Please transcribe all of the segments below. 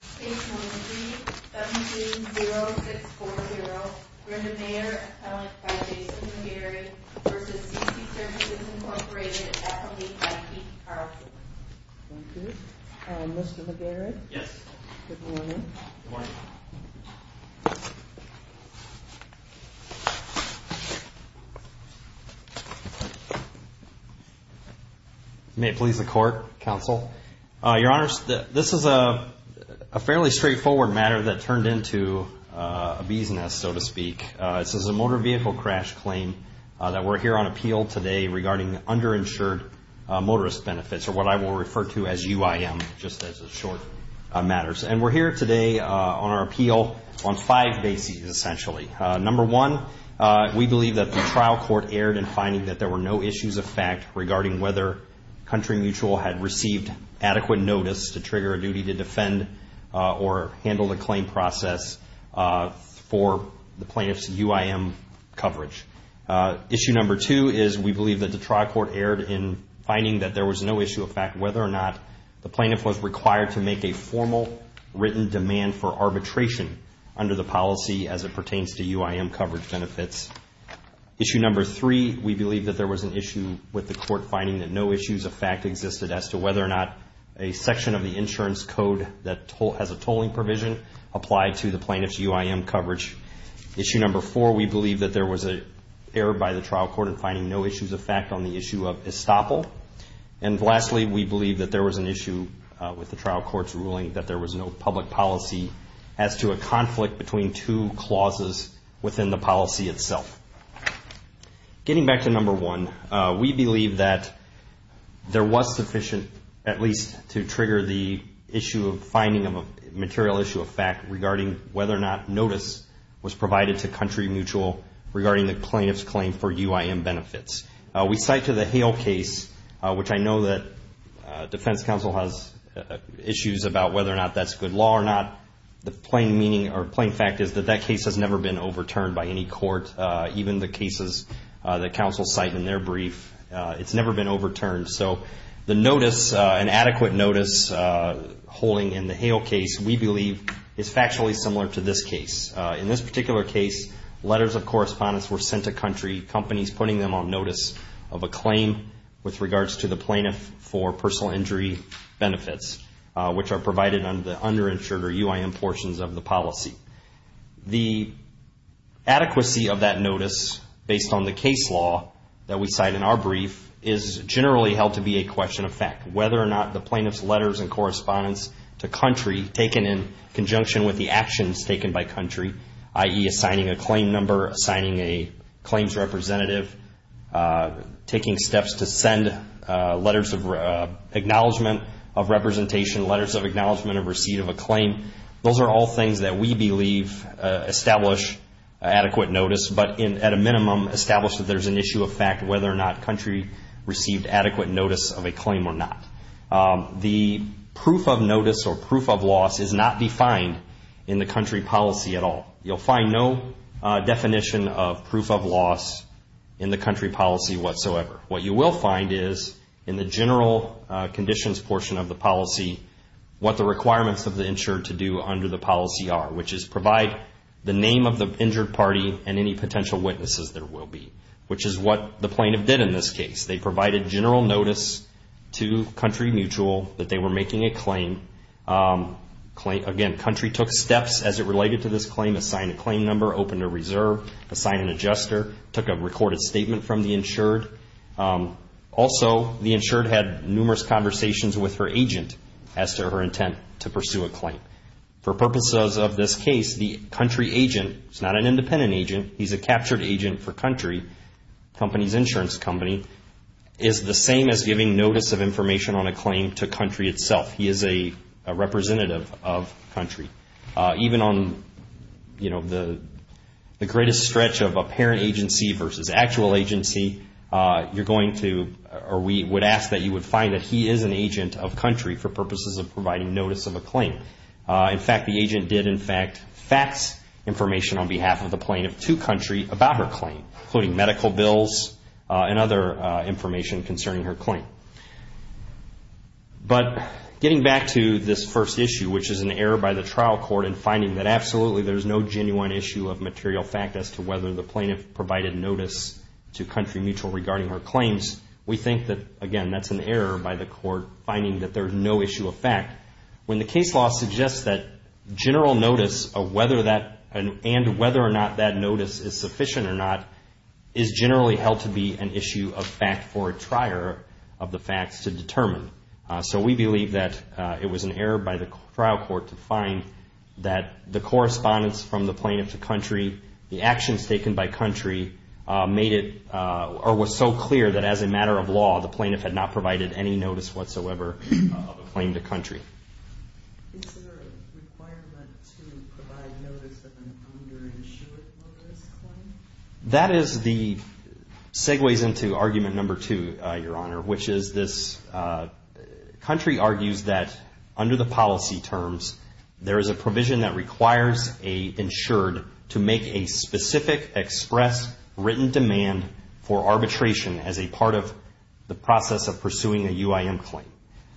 613-720-640. Brenda Maier, appellant by Jason McGarrett v. C C Services, Incorporated, FLE County, Tarleton. Thank you. Mr. McGarrett? Yes. Good morning. Good morning. May it please the Court. A fairly straightforward matter that turned into a bee's nest, so to speak. This is a motor vehicle crash claim that we're here on appeal today regarding underinsured motorist benefits, or what I will refer to as UIM, just as a short matter. And we're here today on our appeal on five bases, essentially. Number one, we believe that the trial court erred in finding that there were no issues of fact regarding whether Country Mutual had received adequate notice to trigger a duty to defend or handle the claim process for the plaintiff's UIM coverage. Issue number two is we believe that the trial court erred in finding that there was no issue of fact whether or not the plaintiff was required to make a formal written demand for arbitration under the policy as it pertains to UIM coverage benefits. Issue number three, we believe that there was an issue with the court finding that no issues of fact existed as to whether or not a section of the insurance code that has a tolling provision applied to the plaintiff's UIM coverage. Issue number four, we believe that there was an error by the trial court in finding no issues of fact on the issue of estoppel. And lastly, we believe that there was an issue with the trial court's ruling that there was no public policy as to a conflict between two clauses within the policy itself. Getting back to number one, we believe that there was sufficient at least to trigger the issue of finding of a material issue of fact regarding whether or not notice was provided to Country Mutual regarding the plaintiff's claim for UIM benefits. We cite to the Hale case, which I know that defense counsel has issues about whether or not that's good law or not. The plain meaning or plain fact is that that case has never been overturned by any court, even the cases that counsel cite in their brief. It's never been overturned. So the notice, an adequate notice holding in the Hale case, we believe is factually similar to this case. In this particular case, letters of correspondence were sent to Country, companies putting them on notice of a claim with regards to the plaintiff for personal injury benefits, which are provided under the underinsured or UIM portions of the policy. The adequacy of that notice based on the case law that we cite in our brief is generally held to be a question of fact. Whether or not the plaintiff's letters and correspondence to Country taken in conjunction with the actions taken by Country, i.e. assigning a claim number, assigning a claims representative, taking steps to send letters of acknowledgement of representation, letters of acknowledgement of receipt of a claim. Those are all things that we believe establish adequate notice, but at a minimum establish that there's an issue of fact whether or not Country received adequate notice of a claim or not. The proof of notice or proof of loss is not defined in the Country policy at all. You'll find no definition of proof of loss in the Country policy whatsoever. What you will find is in the general conditions portion of the policy, what the requirements of the insured to do under the policy are, which is provide the name of the injured party and any potential witnesses there will be, which is what the plaintiff did in this case. They provided general notice to Country Mutual that they were making a claim. Again, Country took steps as it related to this claim, assigned a claim number, opened a reserve, assigned an adjuster, took a recorded statement from the insured. Also, the insured had numerous conversations with her agent as to her intent to pursue a claim. For purposes of this case, the Country agent, he's not an independent agent, he's a captured agent for Country, the company's insurance company, is the same as giving notice of information on a claim to Country itself. He is a representative of Country. Even on the greatest stretch of apparent agency versus actual agency, you're going to, or we would ask that you would find that he is an agent of Country for purposes of providing notice of a claim. In fact, the agent did, in fact, fax information on behalf of the plaintiff to Country about her claim, including medical bills and other information concerning her claim. But getting back to this first issue, which is an error by the trial court in finding that absolutely there's no genuine issue of material fact as to whether the plaintiff provided notice to Country Mutual regarding her claims, we think that, again, that's an error by the court finding that there's no issue of fact. When the case law suggests that general notice of whether that, and whether or not that notice is sufficient or not, is generally held to be an issue of fact for a trier of the facts to determine. So we believe that it was an error by the trial court to find that the correspondence from the plaintiff to Country, the actions taken by Country, made it, or was so clear that as a matter of law, the plaintiff had not provided any notice whatsoever of a claim to Country. Is there a requirement to provide notice of an underinsured woman's claim? That is the, segues into argument number two, Your Honor, which is this, Country argues that under the policy terms, there is a provision that requires a insured to make a specific express written demand for arbitration as a part of the process of pursuing a UIM claim.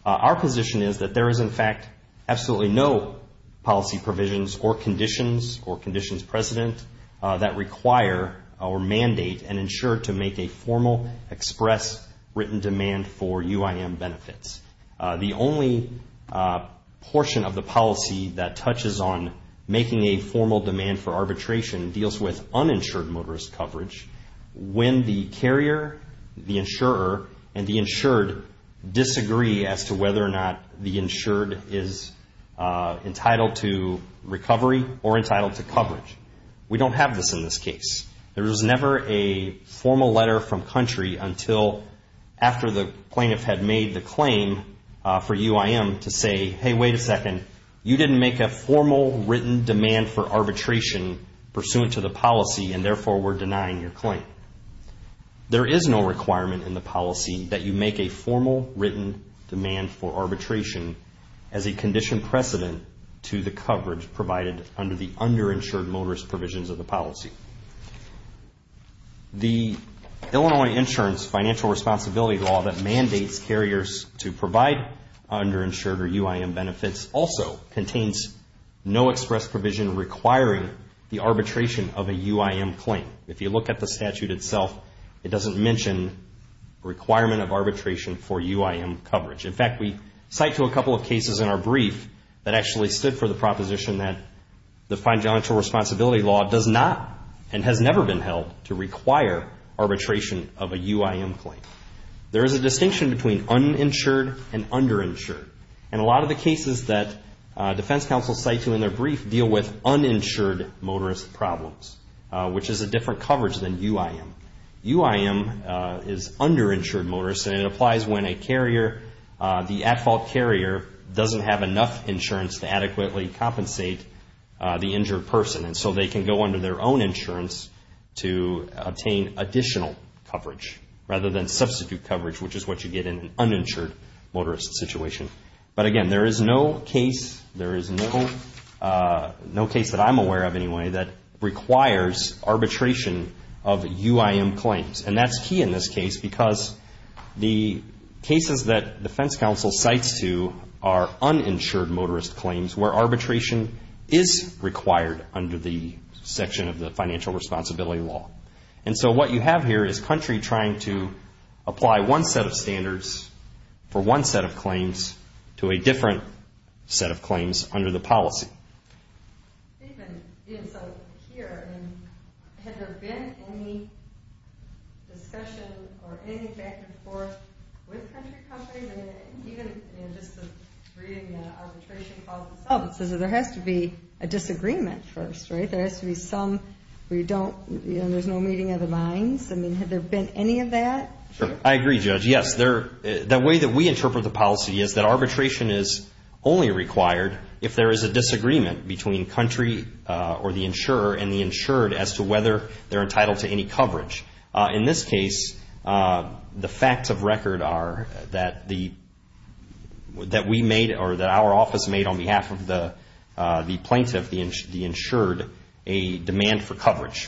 Our position is that there is, in fact, absolutely no policy provisions or conditions or conditions precedent that require our mandate an insured to make a formal express written demand for UIM benefits. The only portion of the policy that touches on making a formal demand for arbitration deals with uninsured motorist coverage. When the carrier, the insurer, and the insured disagree as to whether or not the insured is entitled to recovery or entitled to coverage. We don't have this in this case. There is never a formal letter from Country until after the plaintiff had made the claim for UIM to say, hey, wait a second, you didn't make a formal written demand for arbitration pursuant to the policy and therefore we're denying your claim. There is no requirement in the policy that you make a formal written demand for arbitration as a condition precedent to the coverage provided under the underinsured motorist provisions of the policy. The Illinois Insurance Financial Responsibility Law that mandates carriers to provide underinsured or UIM benefits also contains no express provision requiring the arbitration of a UIM claim. If you look at the statute itself, it doesn't mention requirement of arbitration for UIM coverage. In fact, we cite to a couple of cases in our brief that actually stood for the proposition that the financial responsibility law does not and has never been held to require arbitration of a UIM claim. There is a distinction between uninsured and with uninsured motorist problems, which is a different coverage than UIM. UIM is underinsured motorist and it applies when a carrier, the at-fault carrier doesn't have enough insurance to adequately compensate the injured person and so they can go under their own insurance to obtain additional coverage rather than substitute coverage, which is what you get in an uninsured motorist situation. But again, there is no case, there is no case that I'm aware of anyway that requires arbitration of UIM claims. And that's key in this case because the cases that defense counsel cites to are uninsured motorist claims where arbitration is required under the section of the financial responsibility law. And so what you have here is country trying to apply one set of standards for one set of claims to a different set of claims under the policy. Even here, had there been any discussion or any back and forth with country companies and even just reading the arbitration clauses? There has to be a disagreement first, right? There has to be some where there's no meeting of the lines. I mean, had there been any of that? I agree, Judge. Yes, the way that we interpret the policy is that arbitration is only required if there is a disagreement between country or the insurer and the insured as to whether they're entitled to any coverage. In this case, the facts of the plaintiff, the insured, a demand for coverage.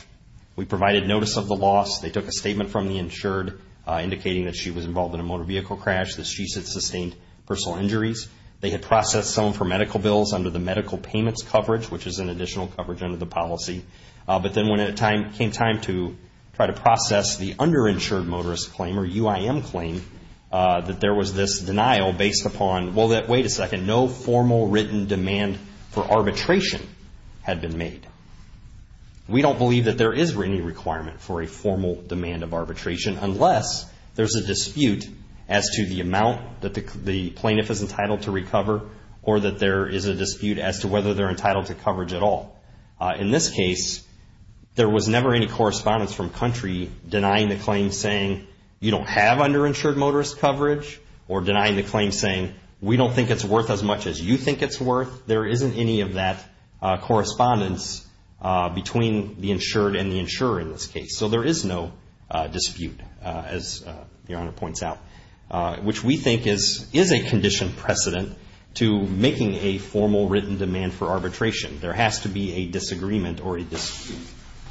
We provided notice of the loss. They took a statement from the insured indicating that she was involved in a motor vehicle crash, that she had sustained personal injuries. They had processed some of her medical bills under the medical payments coverage, which is an additional coverage under the policy. But then when it came time to try to process the underinsured motorist claim or UIM claim that there was this denial based upon, well, wait a second, no formal written demand for arbitration had been made. We don't believe that there is any requirement for a formal demand of arbitration unless there's a dispute as to the amount that the plaintiff is entitled to recover or that there is a dispute as to whether they're entitled to coverage at all. In this case, there was no dispute as to whether there was a formal written demand for arbitration. There has to be a disagreement or a dispute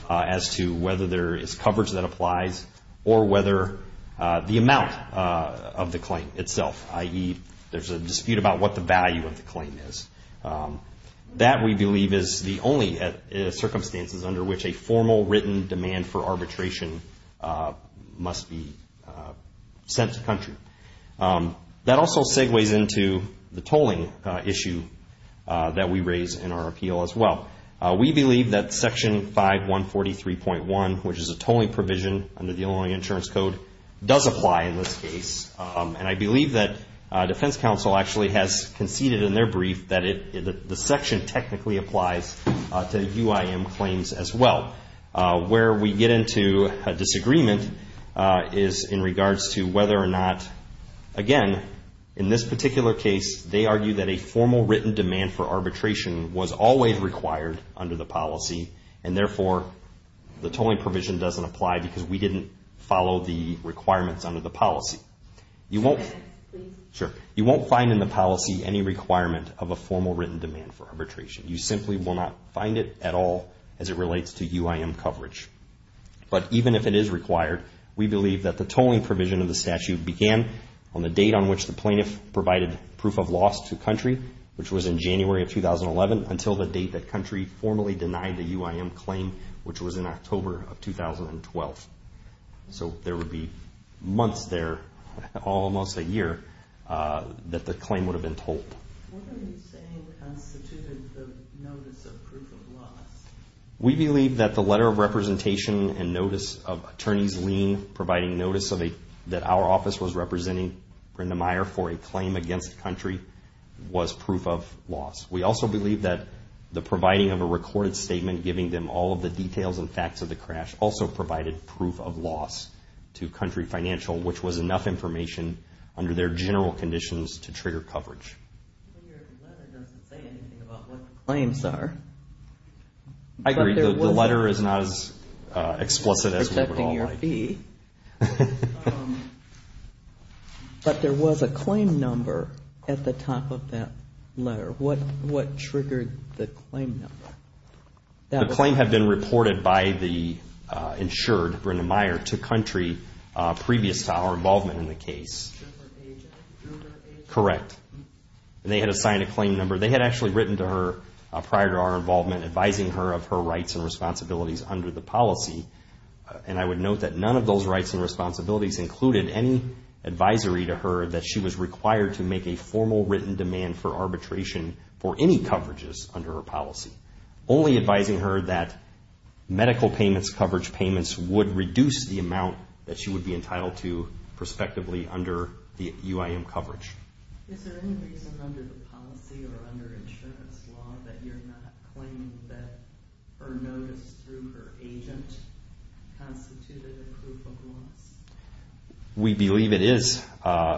as to whether there is coverage that applies or whether the amount of the claim itself, i.e., there's a dispute about what the value of the claim is. That, we believe, is the only circumstances under which a formal written demand for arbitration must be sent to country. That also segues into the tolling issue that we raise in our appeal as well. We believe that Section 5143.1, which is a tolling provision under the Illinois Insurance Code, does apply in this case. I believe that Defense Counsel actually has conceded in their brief that the section technically applies to UIM claims as well. Where we get into a disagreement is in regards to whether or not, again, in this particular case, they argue that a formal written demand for arbitration was always required under the policy, and therefore, the tolling provision doesn't apply because we didn't follow the requirements under the policy. You won't find in the policy any requirement of a formal written demand for arbitration. You simply will not find it at all as it relates to UIM coverage. But even if it is required, we believe that the tolling provision of the statute began on the date on which the plaintiff provided proof of loss to country, which was in January of 2011, until the date that country formally denied the UIM claim, which was in October of 2012. So there would be months there, almost a year, that the claim would have been tolled. What are you saying constituted the notice of proof of loss? We believe that the letter of representation and notice of attorneys lien providing notice that our office was representing Brenda Meyer for a claim against the country was proof of loss. We also believe that the providing of a recorded statement giving them all of the details and facts of the crash also provided proof of loss to country financial, which was enough information under their general conditions to trigger coverage. But your letter doesn't say anything about what the claims are. I agree. The letter is not as explicit as we would all like. But there was a claim number at the top of that letter. What triggered the claim number? The claim had been reported by the insured, Brenda Meyer, to country previous to our involvement in the case. Correct. They had assigned a claim number. They had actually written to her prior to our involvement, advising her of her rights and responsibilities under the policy. And I would note that none of those rights and responsibilities included any advisory to her that she was required to make a formal written demand for arbitration for any coverages under her policy. Only advising her that medical payments, coverage payments would reduce the amount that she would be entitled to prospectively under the UIM coverage. Is there any reason under the policy or under insurance law that you're not claiming that her notice through her agent constituted a proof of loss? We believe it is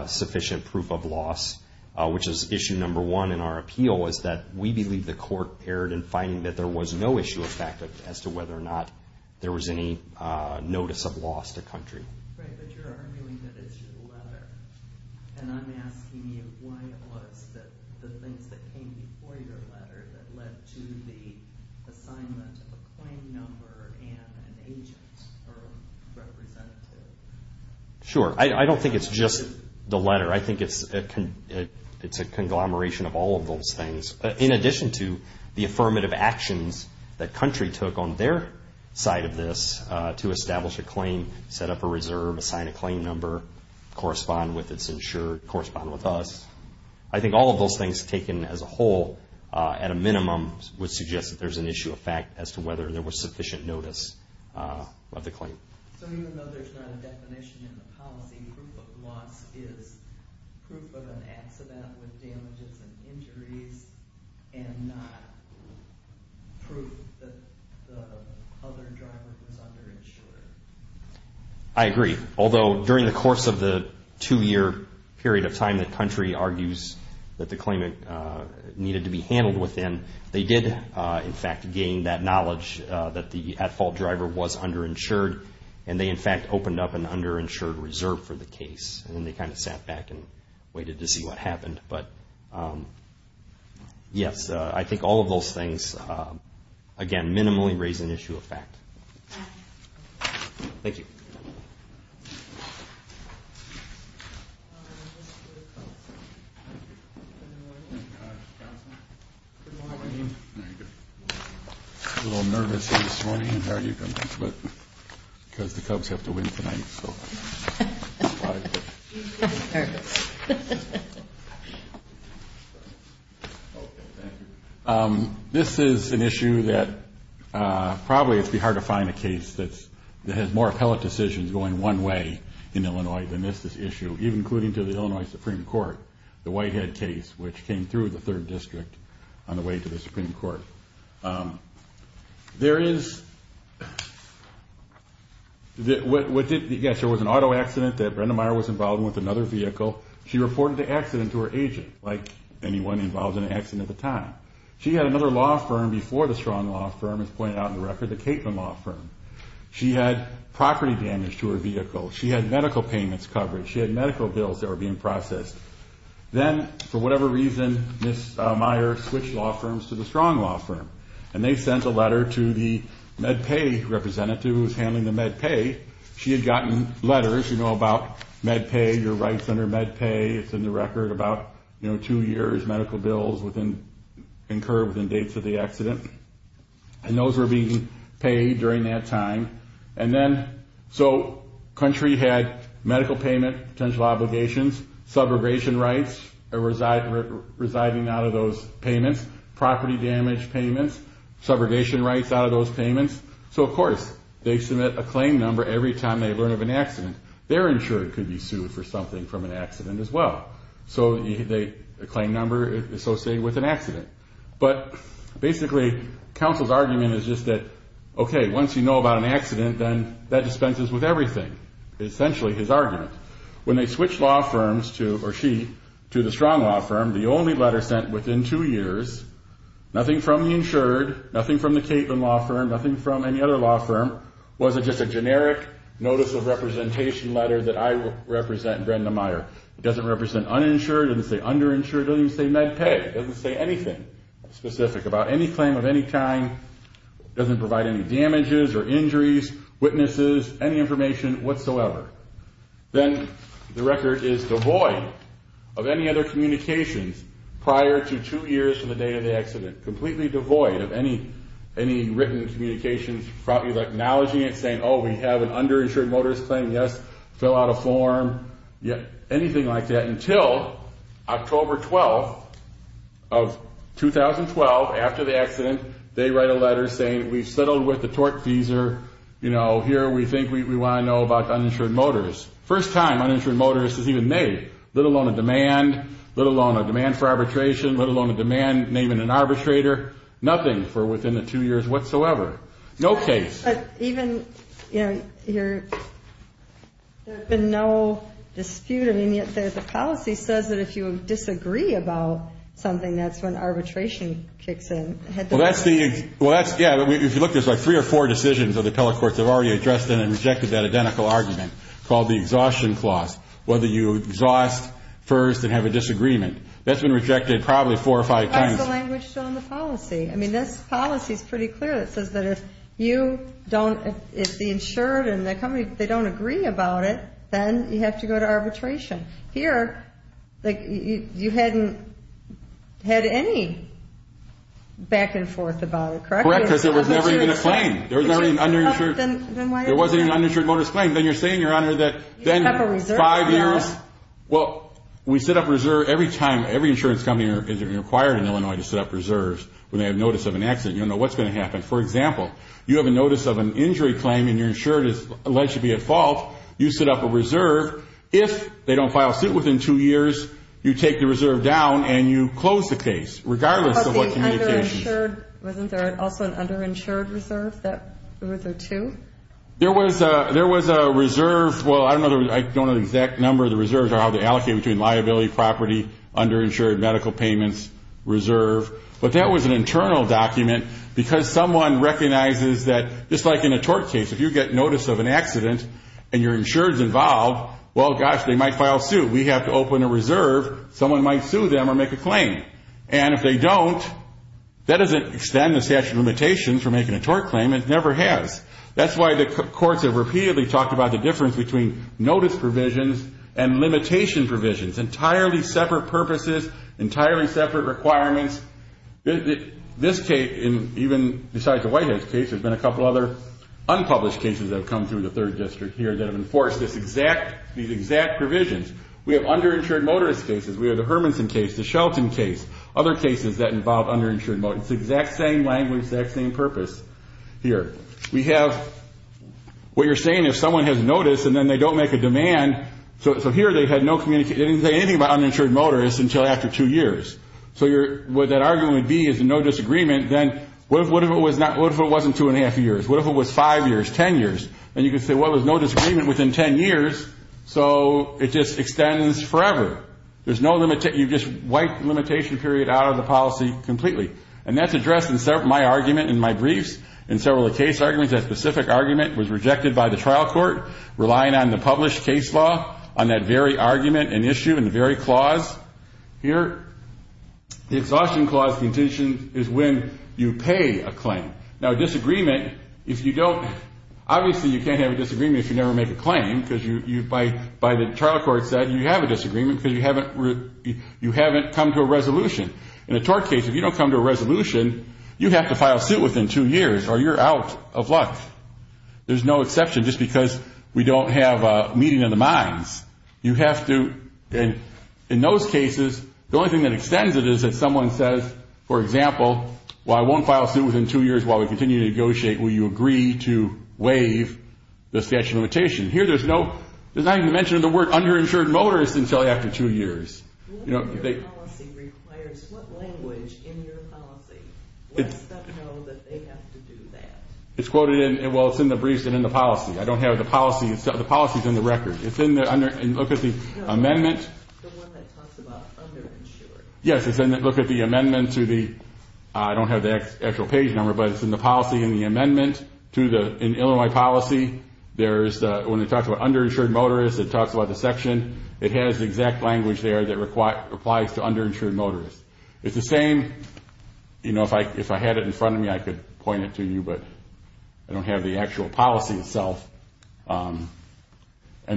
sufficient proof of loss, which is issue number one in our appeal, is that we believe the court erred in finding that there was no issue of fact as to whether or not there was any notice of loss to country. Right, but you're arguing that it's through the letter. And I'm asking you why it was that the things that came before your letter that led to the assignment of a claim number and an agent or representative. Sure. I don't think it's just the letter. I think it's a conglomeration of all of those things. In addition to the affirmative actions that country took on their side of this to establish a claim, set up a reserve, assign a claim number, correspond with its insured, correspond with us. I think all of those things taken as a whole at a minimum would suggest that there's an issue of fact as to whether there was sufficient notice of the claim. So even though there's not a definition in the policy, proof of loss is proof of an accident with damages and injuries and not proof that the other driver was underinsured. I agree. Although during the course of the two-year period of time that country argues that the claimant needed to be handled within, they did in fact gain that knowledge that the at-fault driver was underinsured. And they in fact opened up an underinsured reserve for the case. And they kind of sat back and waited to see what happened. But yes, I think all of those things again minimally raise an issue of fact. Thank you. Good morning. I'm a little nervous this morning. How are you doing? Because the Cubs have to win tonight. I'm nervous. This is an issue that probably it would be hard to find a case that has more appellate decisions going one way in Illinois than this issue, even including to the Illinois Supreme Court, the Whitehead case, which came through the third district on the way to the Supreme Court. There is, yes, there was an auto accident that Brenda Meyer was involved with another vehicle. She reported the accident to her agent, like anyone involved in an accident at the time. She had another law firm before the Strong Law Firm, as pointed out, and she had medical payments covered. She had medical bills that were being processed. Then for whatever reason, Ms. Meyer switched law firms to the Strong Law Firm. And they sent a letter to the MedPay representative who was handling the MedPay. She had gotten letters about MedPay, your rights under MedPay. It's in the record about two years medical bills incurred within dates of the accident. And those were being paid during that time. Country had medical payment, potential obligations, subrogation rights residing out of those payments, property damage payments, subrogation rights out of those payments. Of course, they submit a claim number every time they learn of an accident. They're insured could be sued for something from an accident as well. So the claim number is associated with an accident. But basically, counsel's argument is just that, okay, once you know about an accident, then that dispenses with everything, essentially his argument. When they switched law firms to, or she, to the Strong Law Firm, the only letter sent within two years, nothing from the insured, nothing from the Catlin Law Firm, nothing from any other law firm. It wasn't just a generic notice of representation letter that I represent Brenda Meyer. It doesn't represent uninsured. It doesn't say underinsured. It doesn't even say MedPay. It doesn't say anything specific about any claim of any kind. It doesn't provide any damages or injuries, witnesses, any information whatsoever. Then the record is devoid of any other communications prior to two years from the date of the accident. Completely devoid of any written communications acknowledging it, saying, oh, we have an underinsured motorist claim, yes, fill out a form, anything like that until October 12th of 2012, after the accident, they write a letter saying, we've settled with the torque feeser. Here we think we want to know about uninsured motorists. First time uninsured motorists is even named, let alone a demand, let alone a demand for arbitration, let alone a demand naming an arbitrator, nothing for within the two years whatsoever. No case. But even, you know, there's been no dispute. I mean, yet the policy says that if you disagree about something, that's when arbitration kicks in. Well, that's the, well, that's, yeah, if you look, there's like three or four decisions of the appellate courts that have already addressed and rejected that identical argument called the exhaustion clause, whether you exhaust first and have a disagreement. That's been rejected probably four or five times. What's the language on the policy? I mean, this policy is pretty clear. It says that if you don't, if the insured and the company, they don't agree about it, then you have to go to arbitration. Here, like you hadn't had any back and forth about it, correct? Correct, because there was never even a claim. There was never an underinsured, there wasn't an uninsured motorist claim. Then you're saying, Your Honor, that then five years, well, we set up reserve every time. Every insurance company is required in Illinois to set up reserves when they have notice of an accident. You don't know what's going to happen. For example, you have a notice of an injury claim and you're insured as alleged to be at fault. You set up a reserve. If they don't file suit within two years, you take the reserve down and you close the case, regardless of what communication. Wasn't there also an underinsured reserve that was there too? There was a reserve. Well, I don't know the exact number of the reserves or how they allocate between liability, property, underinsured, medical payments, reserve. But that was an internal document because someone recognizes that, just like in a tort case, if you get notice of an accident and you're insured is involved, well, gosh, they might file suit. We have to open a reserve. Someone might sue them or make a claim. And if they don't, that doesn't extend the statute of limitations for making a tort claim. It never has. That's why the courts have repeatedly talked about the difference between notice provisions and limitation provisions, entirely separate purposes, entirely separate requirements. This case, and even besides the White House case, there's been a couple other unpublished cases that have come through the Third District here that have enforced these exact provisions. We have underinsured motorist cases. We have the Hermanson case, the Shelton case, other cases that involve underinsured motorists. It's the exact same language, exact same purpose here. We have what you're saying if someone has notice and then they don't make a demand. So here they had no communication. They didn't say anything about uninsured motorists until after two years. So what that argument would be is no disagreement, then what if it wasn't two and a half years? What if it was five years, ten years? And you could say, well, there's no disagreement within ten years, so it just extends forever. There's no limitation. You just wipe the limitation period out of the policy completely. And that's addressed in my argument in my briefs, in several of the case arguments. That specific argument was rejected by the trial court, relying on the published case law, on that very argument and issue, and the very clause here. The exhaustion clause contingent is when you pay a claim. Now, disagreement, if you don't, obviously you can't have a disagreement if you never make a claim, because by the trial court said you have a disagreement because you haven't come to a resolution. In a tort case, if you don't come to a resolution, you have to file suit within two years or you're out of luck. There's no exception, just because we don't have a meeting of the minds. You have to, in those cases, the only thing that extends it is if someone says, for example, well, I won't file suit within two years while we continue to negotiate. Will you agree to waive the statute of limitation? Here there's not even mention of the word underinsured motorist until after two years. What language in your policy lets them know that they have to do that? It's quoted in the briefs and in the policy. I don't have the policy. The policy is in the record. Look at the amendment. The one that talks about underinsured. Yes, look at the amendment to the, I don't have the actual page number, but it's in the policy and the amendment. In Illinois policy, when it talks about underinsured motorist, it talks about the section. It has the exact language there that applies to underinsured motorist. It's the same. If I had it in front of me, I could point it to you, but I don't have the actual policy itself. And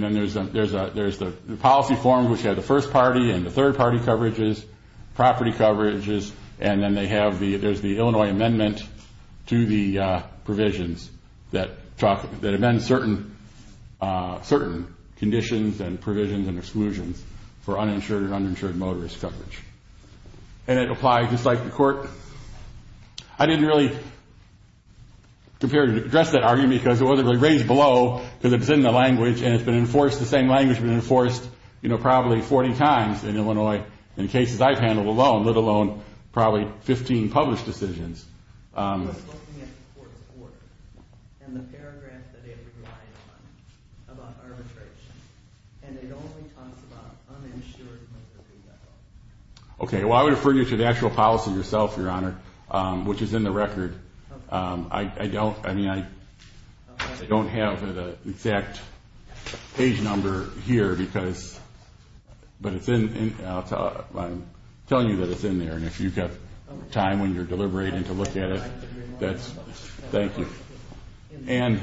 then there's the policy form, which has the first party and the third party coverages, property coverages, and then there's the Illinois amendment to the provisions that amend certain conditions and provisions and exclusions for uninsured and uninsured motorist coverage. And it applies just like the court. I didn't really compare and address that argument because it wasn't really raised below because it's in the language and it's been enforced, the same language has been enforced probably 40 times in Illinois in cases I've handled alone, let alone probably 15 published decisions. I was looking at the court's order and the paragraph that it relied on about arbitration, and it only talks about uninsured motorist. Okay, well, I would refer you to the actual policy yourself, Your Honor, which is in the record. I don't, I mean, I don't have the exact page number here because, but it's in, I'm telling you that it's in there. And if you've got time when you're deliberating to look at it, that's, thank you. And,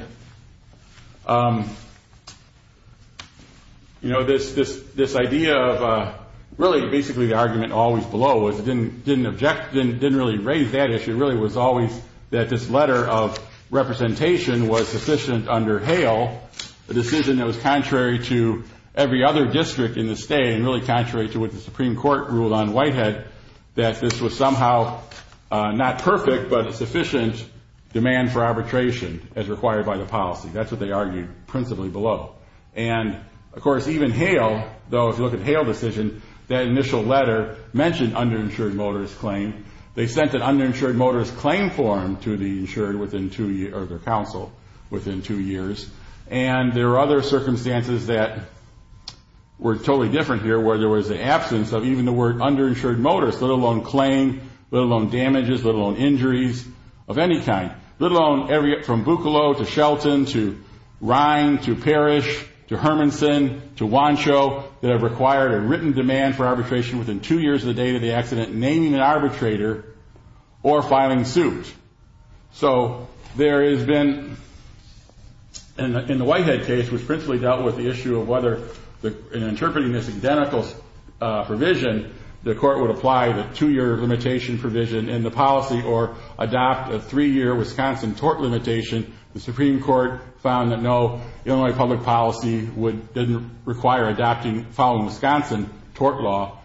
you know, this idea of really basically the argument always below was it didn't object, didn't really raise that issue. It really was always that this letter of representation was sufficient under Hale, a decision that was contrary to every other district in the state and really contrary to what the Supreme Court ruled on Whitehead, that this was somehow not perfect but a sufficient demand for arbitration as required by the policy. That's what they argued principally below. And, of course, even Hale, though if you look at Hale's decision, that initial letter mentioned underinsured motorist claim. They sent an underinsured motorist claim form to the insured within two, or the council, within two years. And there are other circumstances that were totally different here where there was the absence of even the word underinsured motorist, let alone claim, let alone damages, let alone injuries of any kind, let alone from Buccalow to Shelton to Rhine to Parrish to Hermanson to Wancho that have required a written demand for arbitration within two years of the date of the accident, naming an arbitrator, or filing suit. So there has been, in the Whitehead case, which principally dealt with the issue of whether, in interpreting this identical provision, the court would apply the two-year limitation provision in the policy or adopt a three-year Wisconsin tort limitation. The Supreme Court found that no Illinois public policy would, didn't require adopting, following Wisconsin tort law,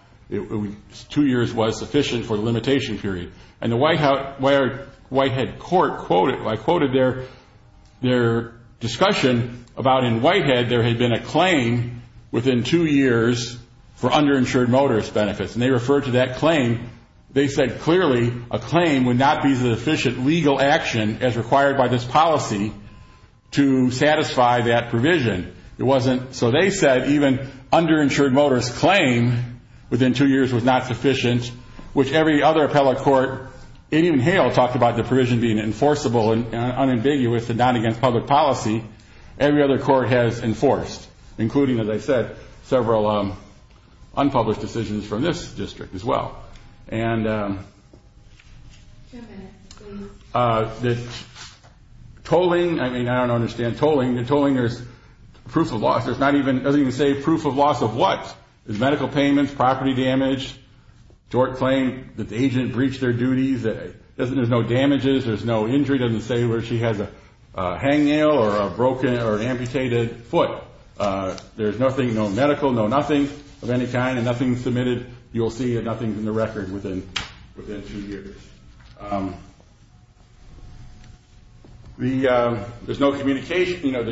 two years was sufficient for the limitation period. And the Whitehead court quoted their discussion about, in Whitehead, there had been a claim within two years for underinsured motorist benefits. And they referred to that claim. They said clearly a claim would not be the efficient legal action as required by this policy to satisfy that provision. It wasn't. So they said even underinsured motorist claim within two years was not sufficient, which every other appellate court, even Hale talked about the provision being enforceable and unambiguous and not against public policy. Every other court has enforced, including, as I said, several unpublished decisions from this district as well. And the tolling, I mean, I don't understand tolling. Tolling is proof of loss. It's not even, it doesn't even say proof of loss of what? Is medical payments, property damage, tort claim that the agent breached their duties. There's no damages. There's no injury. It doesn't say whether she has a hangnail or a broken or amputated foot. There's nothing, no medical, no nothing of any kind and nothing submitted. You'll see nothing in the record within two years. There's no communication, you know,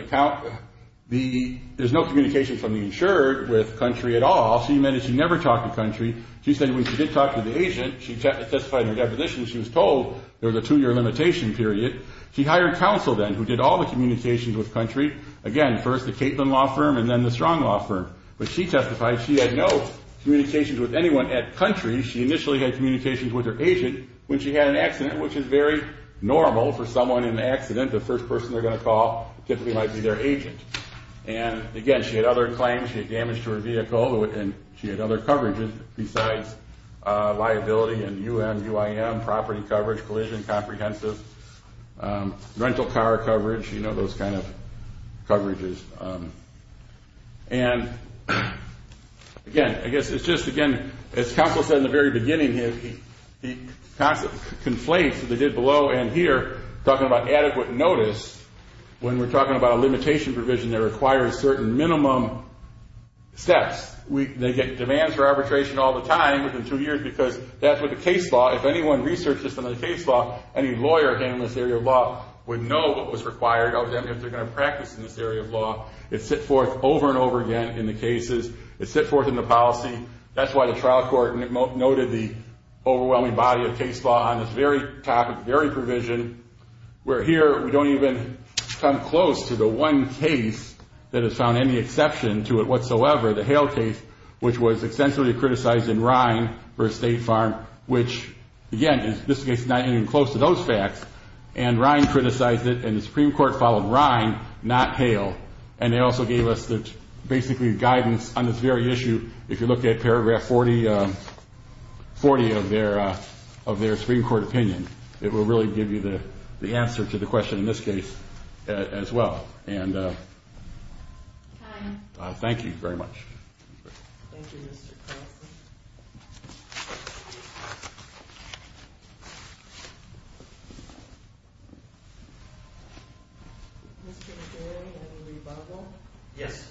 there's no communication from the insured with country at all. She meant that she never talked to country. She said when she did talk to the agent, she testified in her deposition, she was told there was a two-year limitation period. She hired counsel then who did all the communications with country. Again, first the Caitlin Law Firm and then the Strong Law Firm. But she testified she had no communications with anyone at country. She initially had communications with her agent when she had an accident, which is very normal for someone in an accident. The first person they're going to call typically might be their agent. And, again, she had other claims. She had damage to her vehicle and she had other coverages besides liability and UM, UIM, property coverage, collision, comprehensive, rental car coverage, you know, those kind of coverages. And, again, I guess it's just, again, as counsel said in the very beginning, he conflates what they did below and here, talking about adequate notice, when we're talking about a limitation provision that requires certain minimum steps. They get demands for arbitration all the time within two years because that's what the case law, if anyone researches some of the case law, any lawyer handling this area of law would know what was required of them if they're going to practice in this area of law. It's set forth over and over again in the cases. It's set forth in the policy. That's why the trial court noted the overwhelming body of case law on this very topic, very provision, where here we don't even come close to the one case that has found any exception to it whatsoever, the Hale case, which was extensively criticized in Ryan v. State Farm, which, again, in this case is not even close to those facts. And Ryan criticized it, and the Supreme Court followed Ryan, not Hale, and they also gave us basically guidance on this very issue. If you look at paragraph 40 of their Supreme Court opinion, it will really give you the answer to the question in this case as well. And thank you very much. Thank you, Mr. Carlson. Mr. Dewey and Lee Butler? Yes.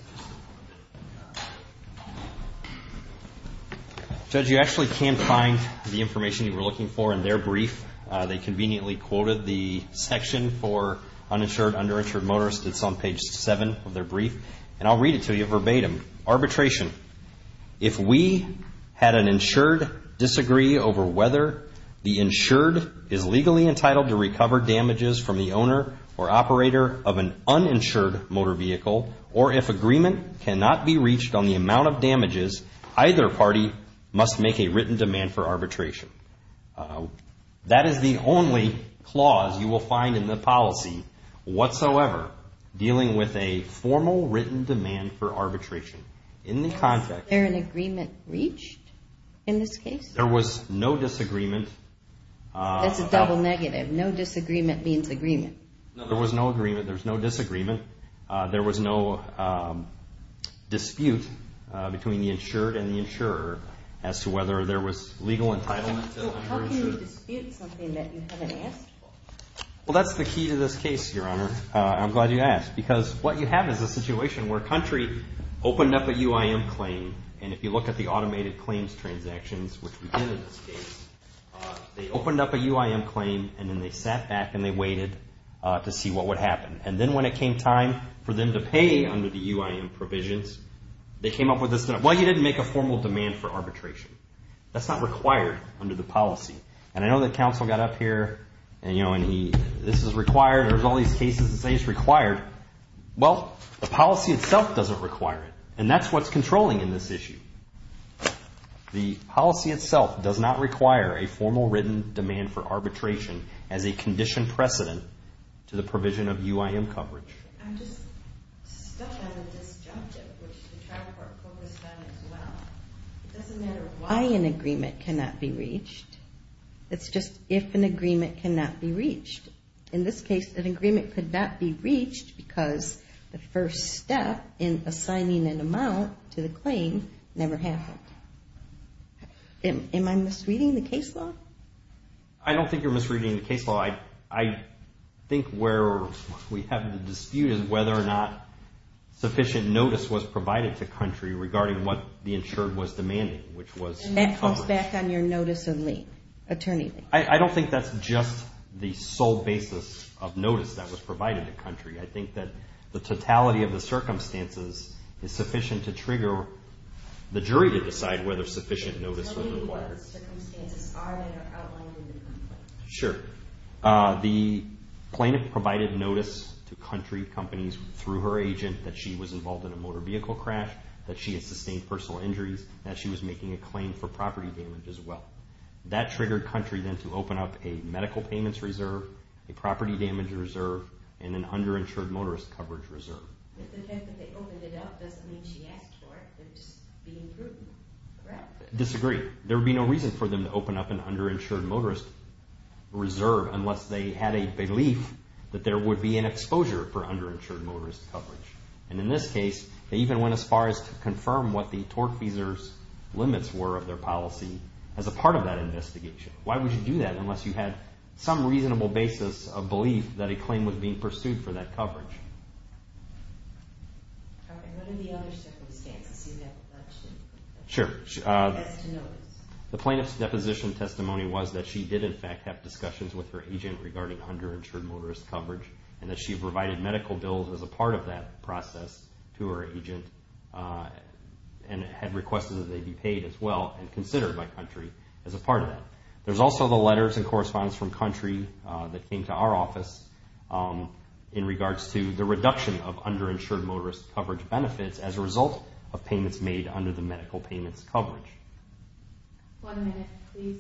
Judge, you actually can find the information you were looking for in their brief. They conveniently quoted the section for uninsured, underinsured motorists. It's on page 7 of their brief. And I'll read it to you verbatim. Arbitration. If we had an insured disagree over whether the insured is legally entitled to recover damages from the owner or operator of an uninsured motor vehicle, or if agreement cannot be reached on the amount of damages, either party must make a written demand for arbitration. That is the only clause you will find in the policy whatsoever dealing with a formal written demand for arbitration. Is there an agreement reached in this case? There was no disagreement. That's a double negative. No disagreement means agreement. No, there was no agreement. There was no disagreement. There was no dispute between the insured and the insurer as to whether there was legal entitlement. How can you dispute something that you haven't asked for? Well, that's the key to this case, Your Honor. I'm glad you asked because what you have is a situation where a country opened up a UIM claim. And if you look at the automated claims transactions, which we did in this case, they opened up a UIM claim and then they sat back and they waited to see what would happen. And then when it came time for them to pay under the UIM provisions, they came up with this. Well, you didn't make a formal demand for arbitration. That's not required under the policy. And I know that counsel got up here and, you know, this is required. There's all these cases that say it's required. Well, the policy itself doesn't require it. And that's what's controlling in this issue. The policy itself does not require a formal written demand for arbitration as a conditioned precedent to the provision of UIM coverage. I'm just stuck on the disjunctive, which the trial court focused on as well. It doesn't matter why an agreement cannot be reached. It's just if an agreement cannot be reached. In this case, an agreement could not be reached because the first step in assigning an amount to the claim never happened. Am I misreading the case law? I don't think you're misreading the case law. I think where we have the dispute is whether or not sufficient notice was provided to country regarding what the insured was demanding, which was coverage. And that comes back on your notice of lien, attorney lien. I don't think that's just the sole basis of notice that was provided to country. I think that the totality of the circumstances is sufficient to trigger the jury to decide whether sufficient notice was required. Tell me what the circumstances are that are outlined in the complaint. Sure. The plaintiff provided notice to country companies through her agent that she was involved in a motor vehicle crash, that she had sustained personal injuries, and that she was making a claim for property damage as well. That triggered country then to open up a medical payments reserve, a property damage reserve, and an underinsured motorist coverage reserve. But the fact that they opened it up doesn't mean she asked for it. They're just being prudent. Disagree. There would be no reason for them to open up an underinsured motorist reserve unless they had a belief that there would be an exposure for underinsured motorist coverage. And in this case, they even went as far as to confirm what the torque feesers limits were of their policy as a part of that investigation. Why would you do that unless you had some reasonable basis of belief that a claim was being pursued for that coverage? What are the other circumstances you have mentioned? Sure. As to notice. The plaintiff's deposition testimony was that she did, in fact, have discussions with her agent regarding underinsured motorist coverage and that she provided medical bills as a part of that process to her agent and had requested that they be paid as well and considered by country as a part of that. There's also the letters and correspondence from country that came to our office in regards to the reduction of underinsured motorist coverage benefits as a result of payments made under the medical payments coverage. One minute, please.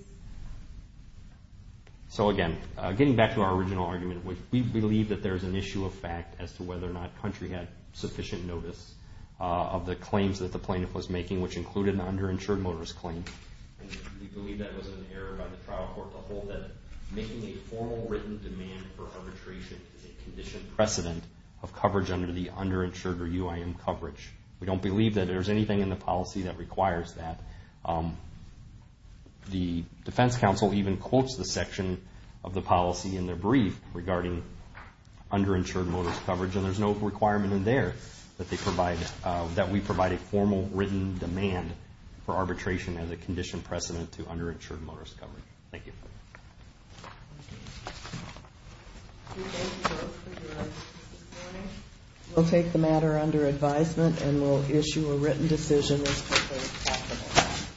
So again, getting back to our original argument, we believe that there's an issue of fact as to whether or not country had sufficient notice of the claims that the plaintiff was making, which included an underinsured motorist claim. We believe that was an error by the trial court to hold that making a formal written demand for arbitration is a conditioned precedent of coverage under the underinsured or UIM coverage. We don't believe that there's anything in the policy that requires that. The defense counsel even quotes the section of the policy in their brief regarding underinsured motorist coverage, and there's no requirement in there that we provide a formal written demand for arbitration as a conditioned precedent to underinsured motorist coverage. Thank you. Thank you. We'll take the matter under advisement, and we'll issue a written decision as quickly as possible.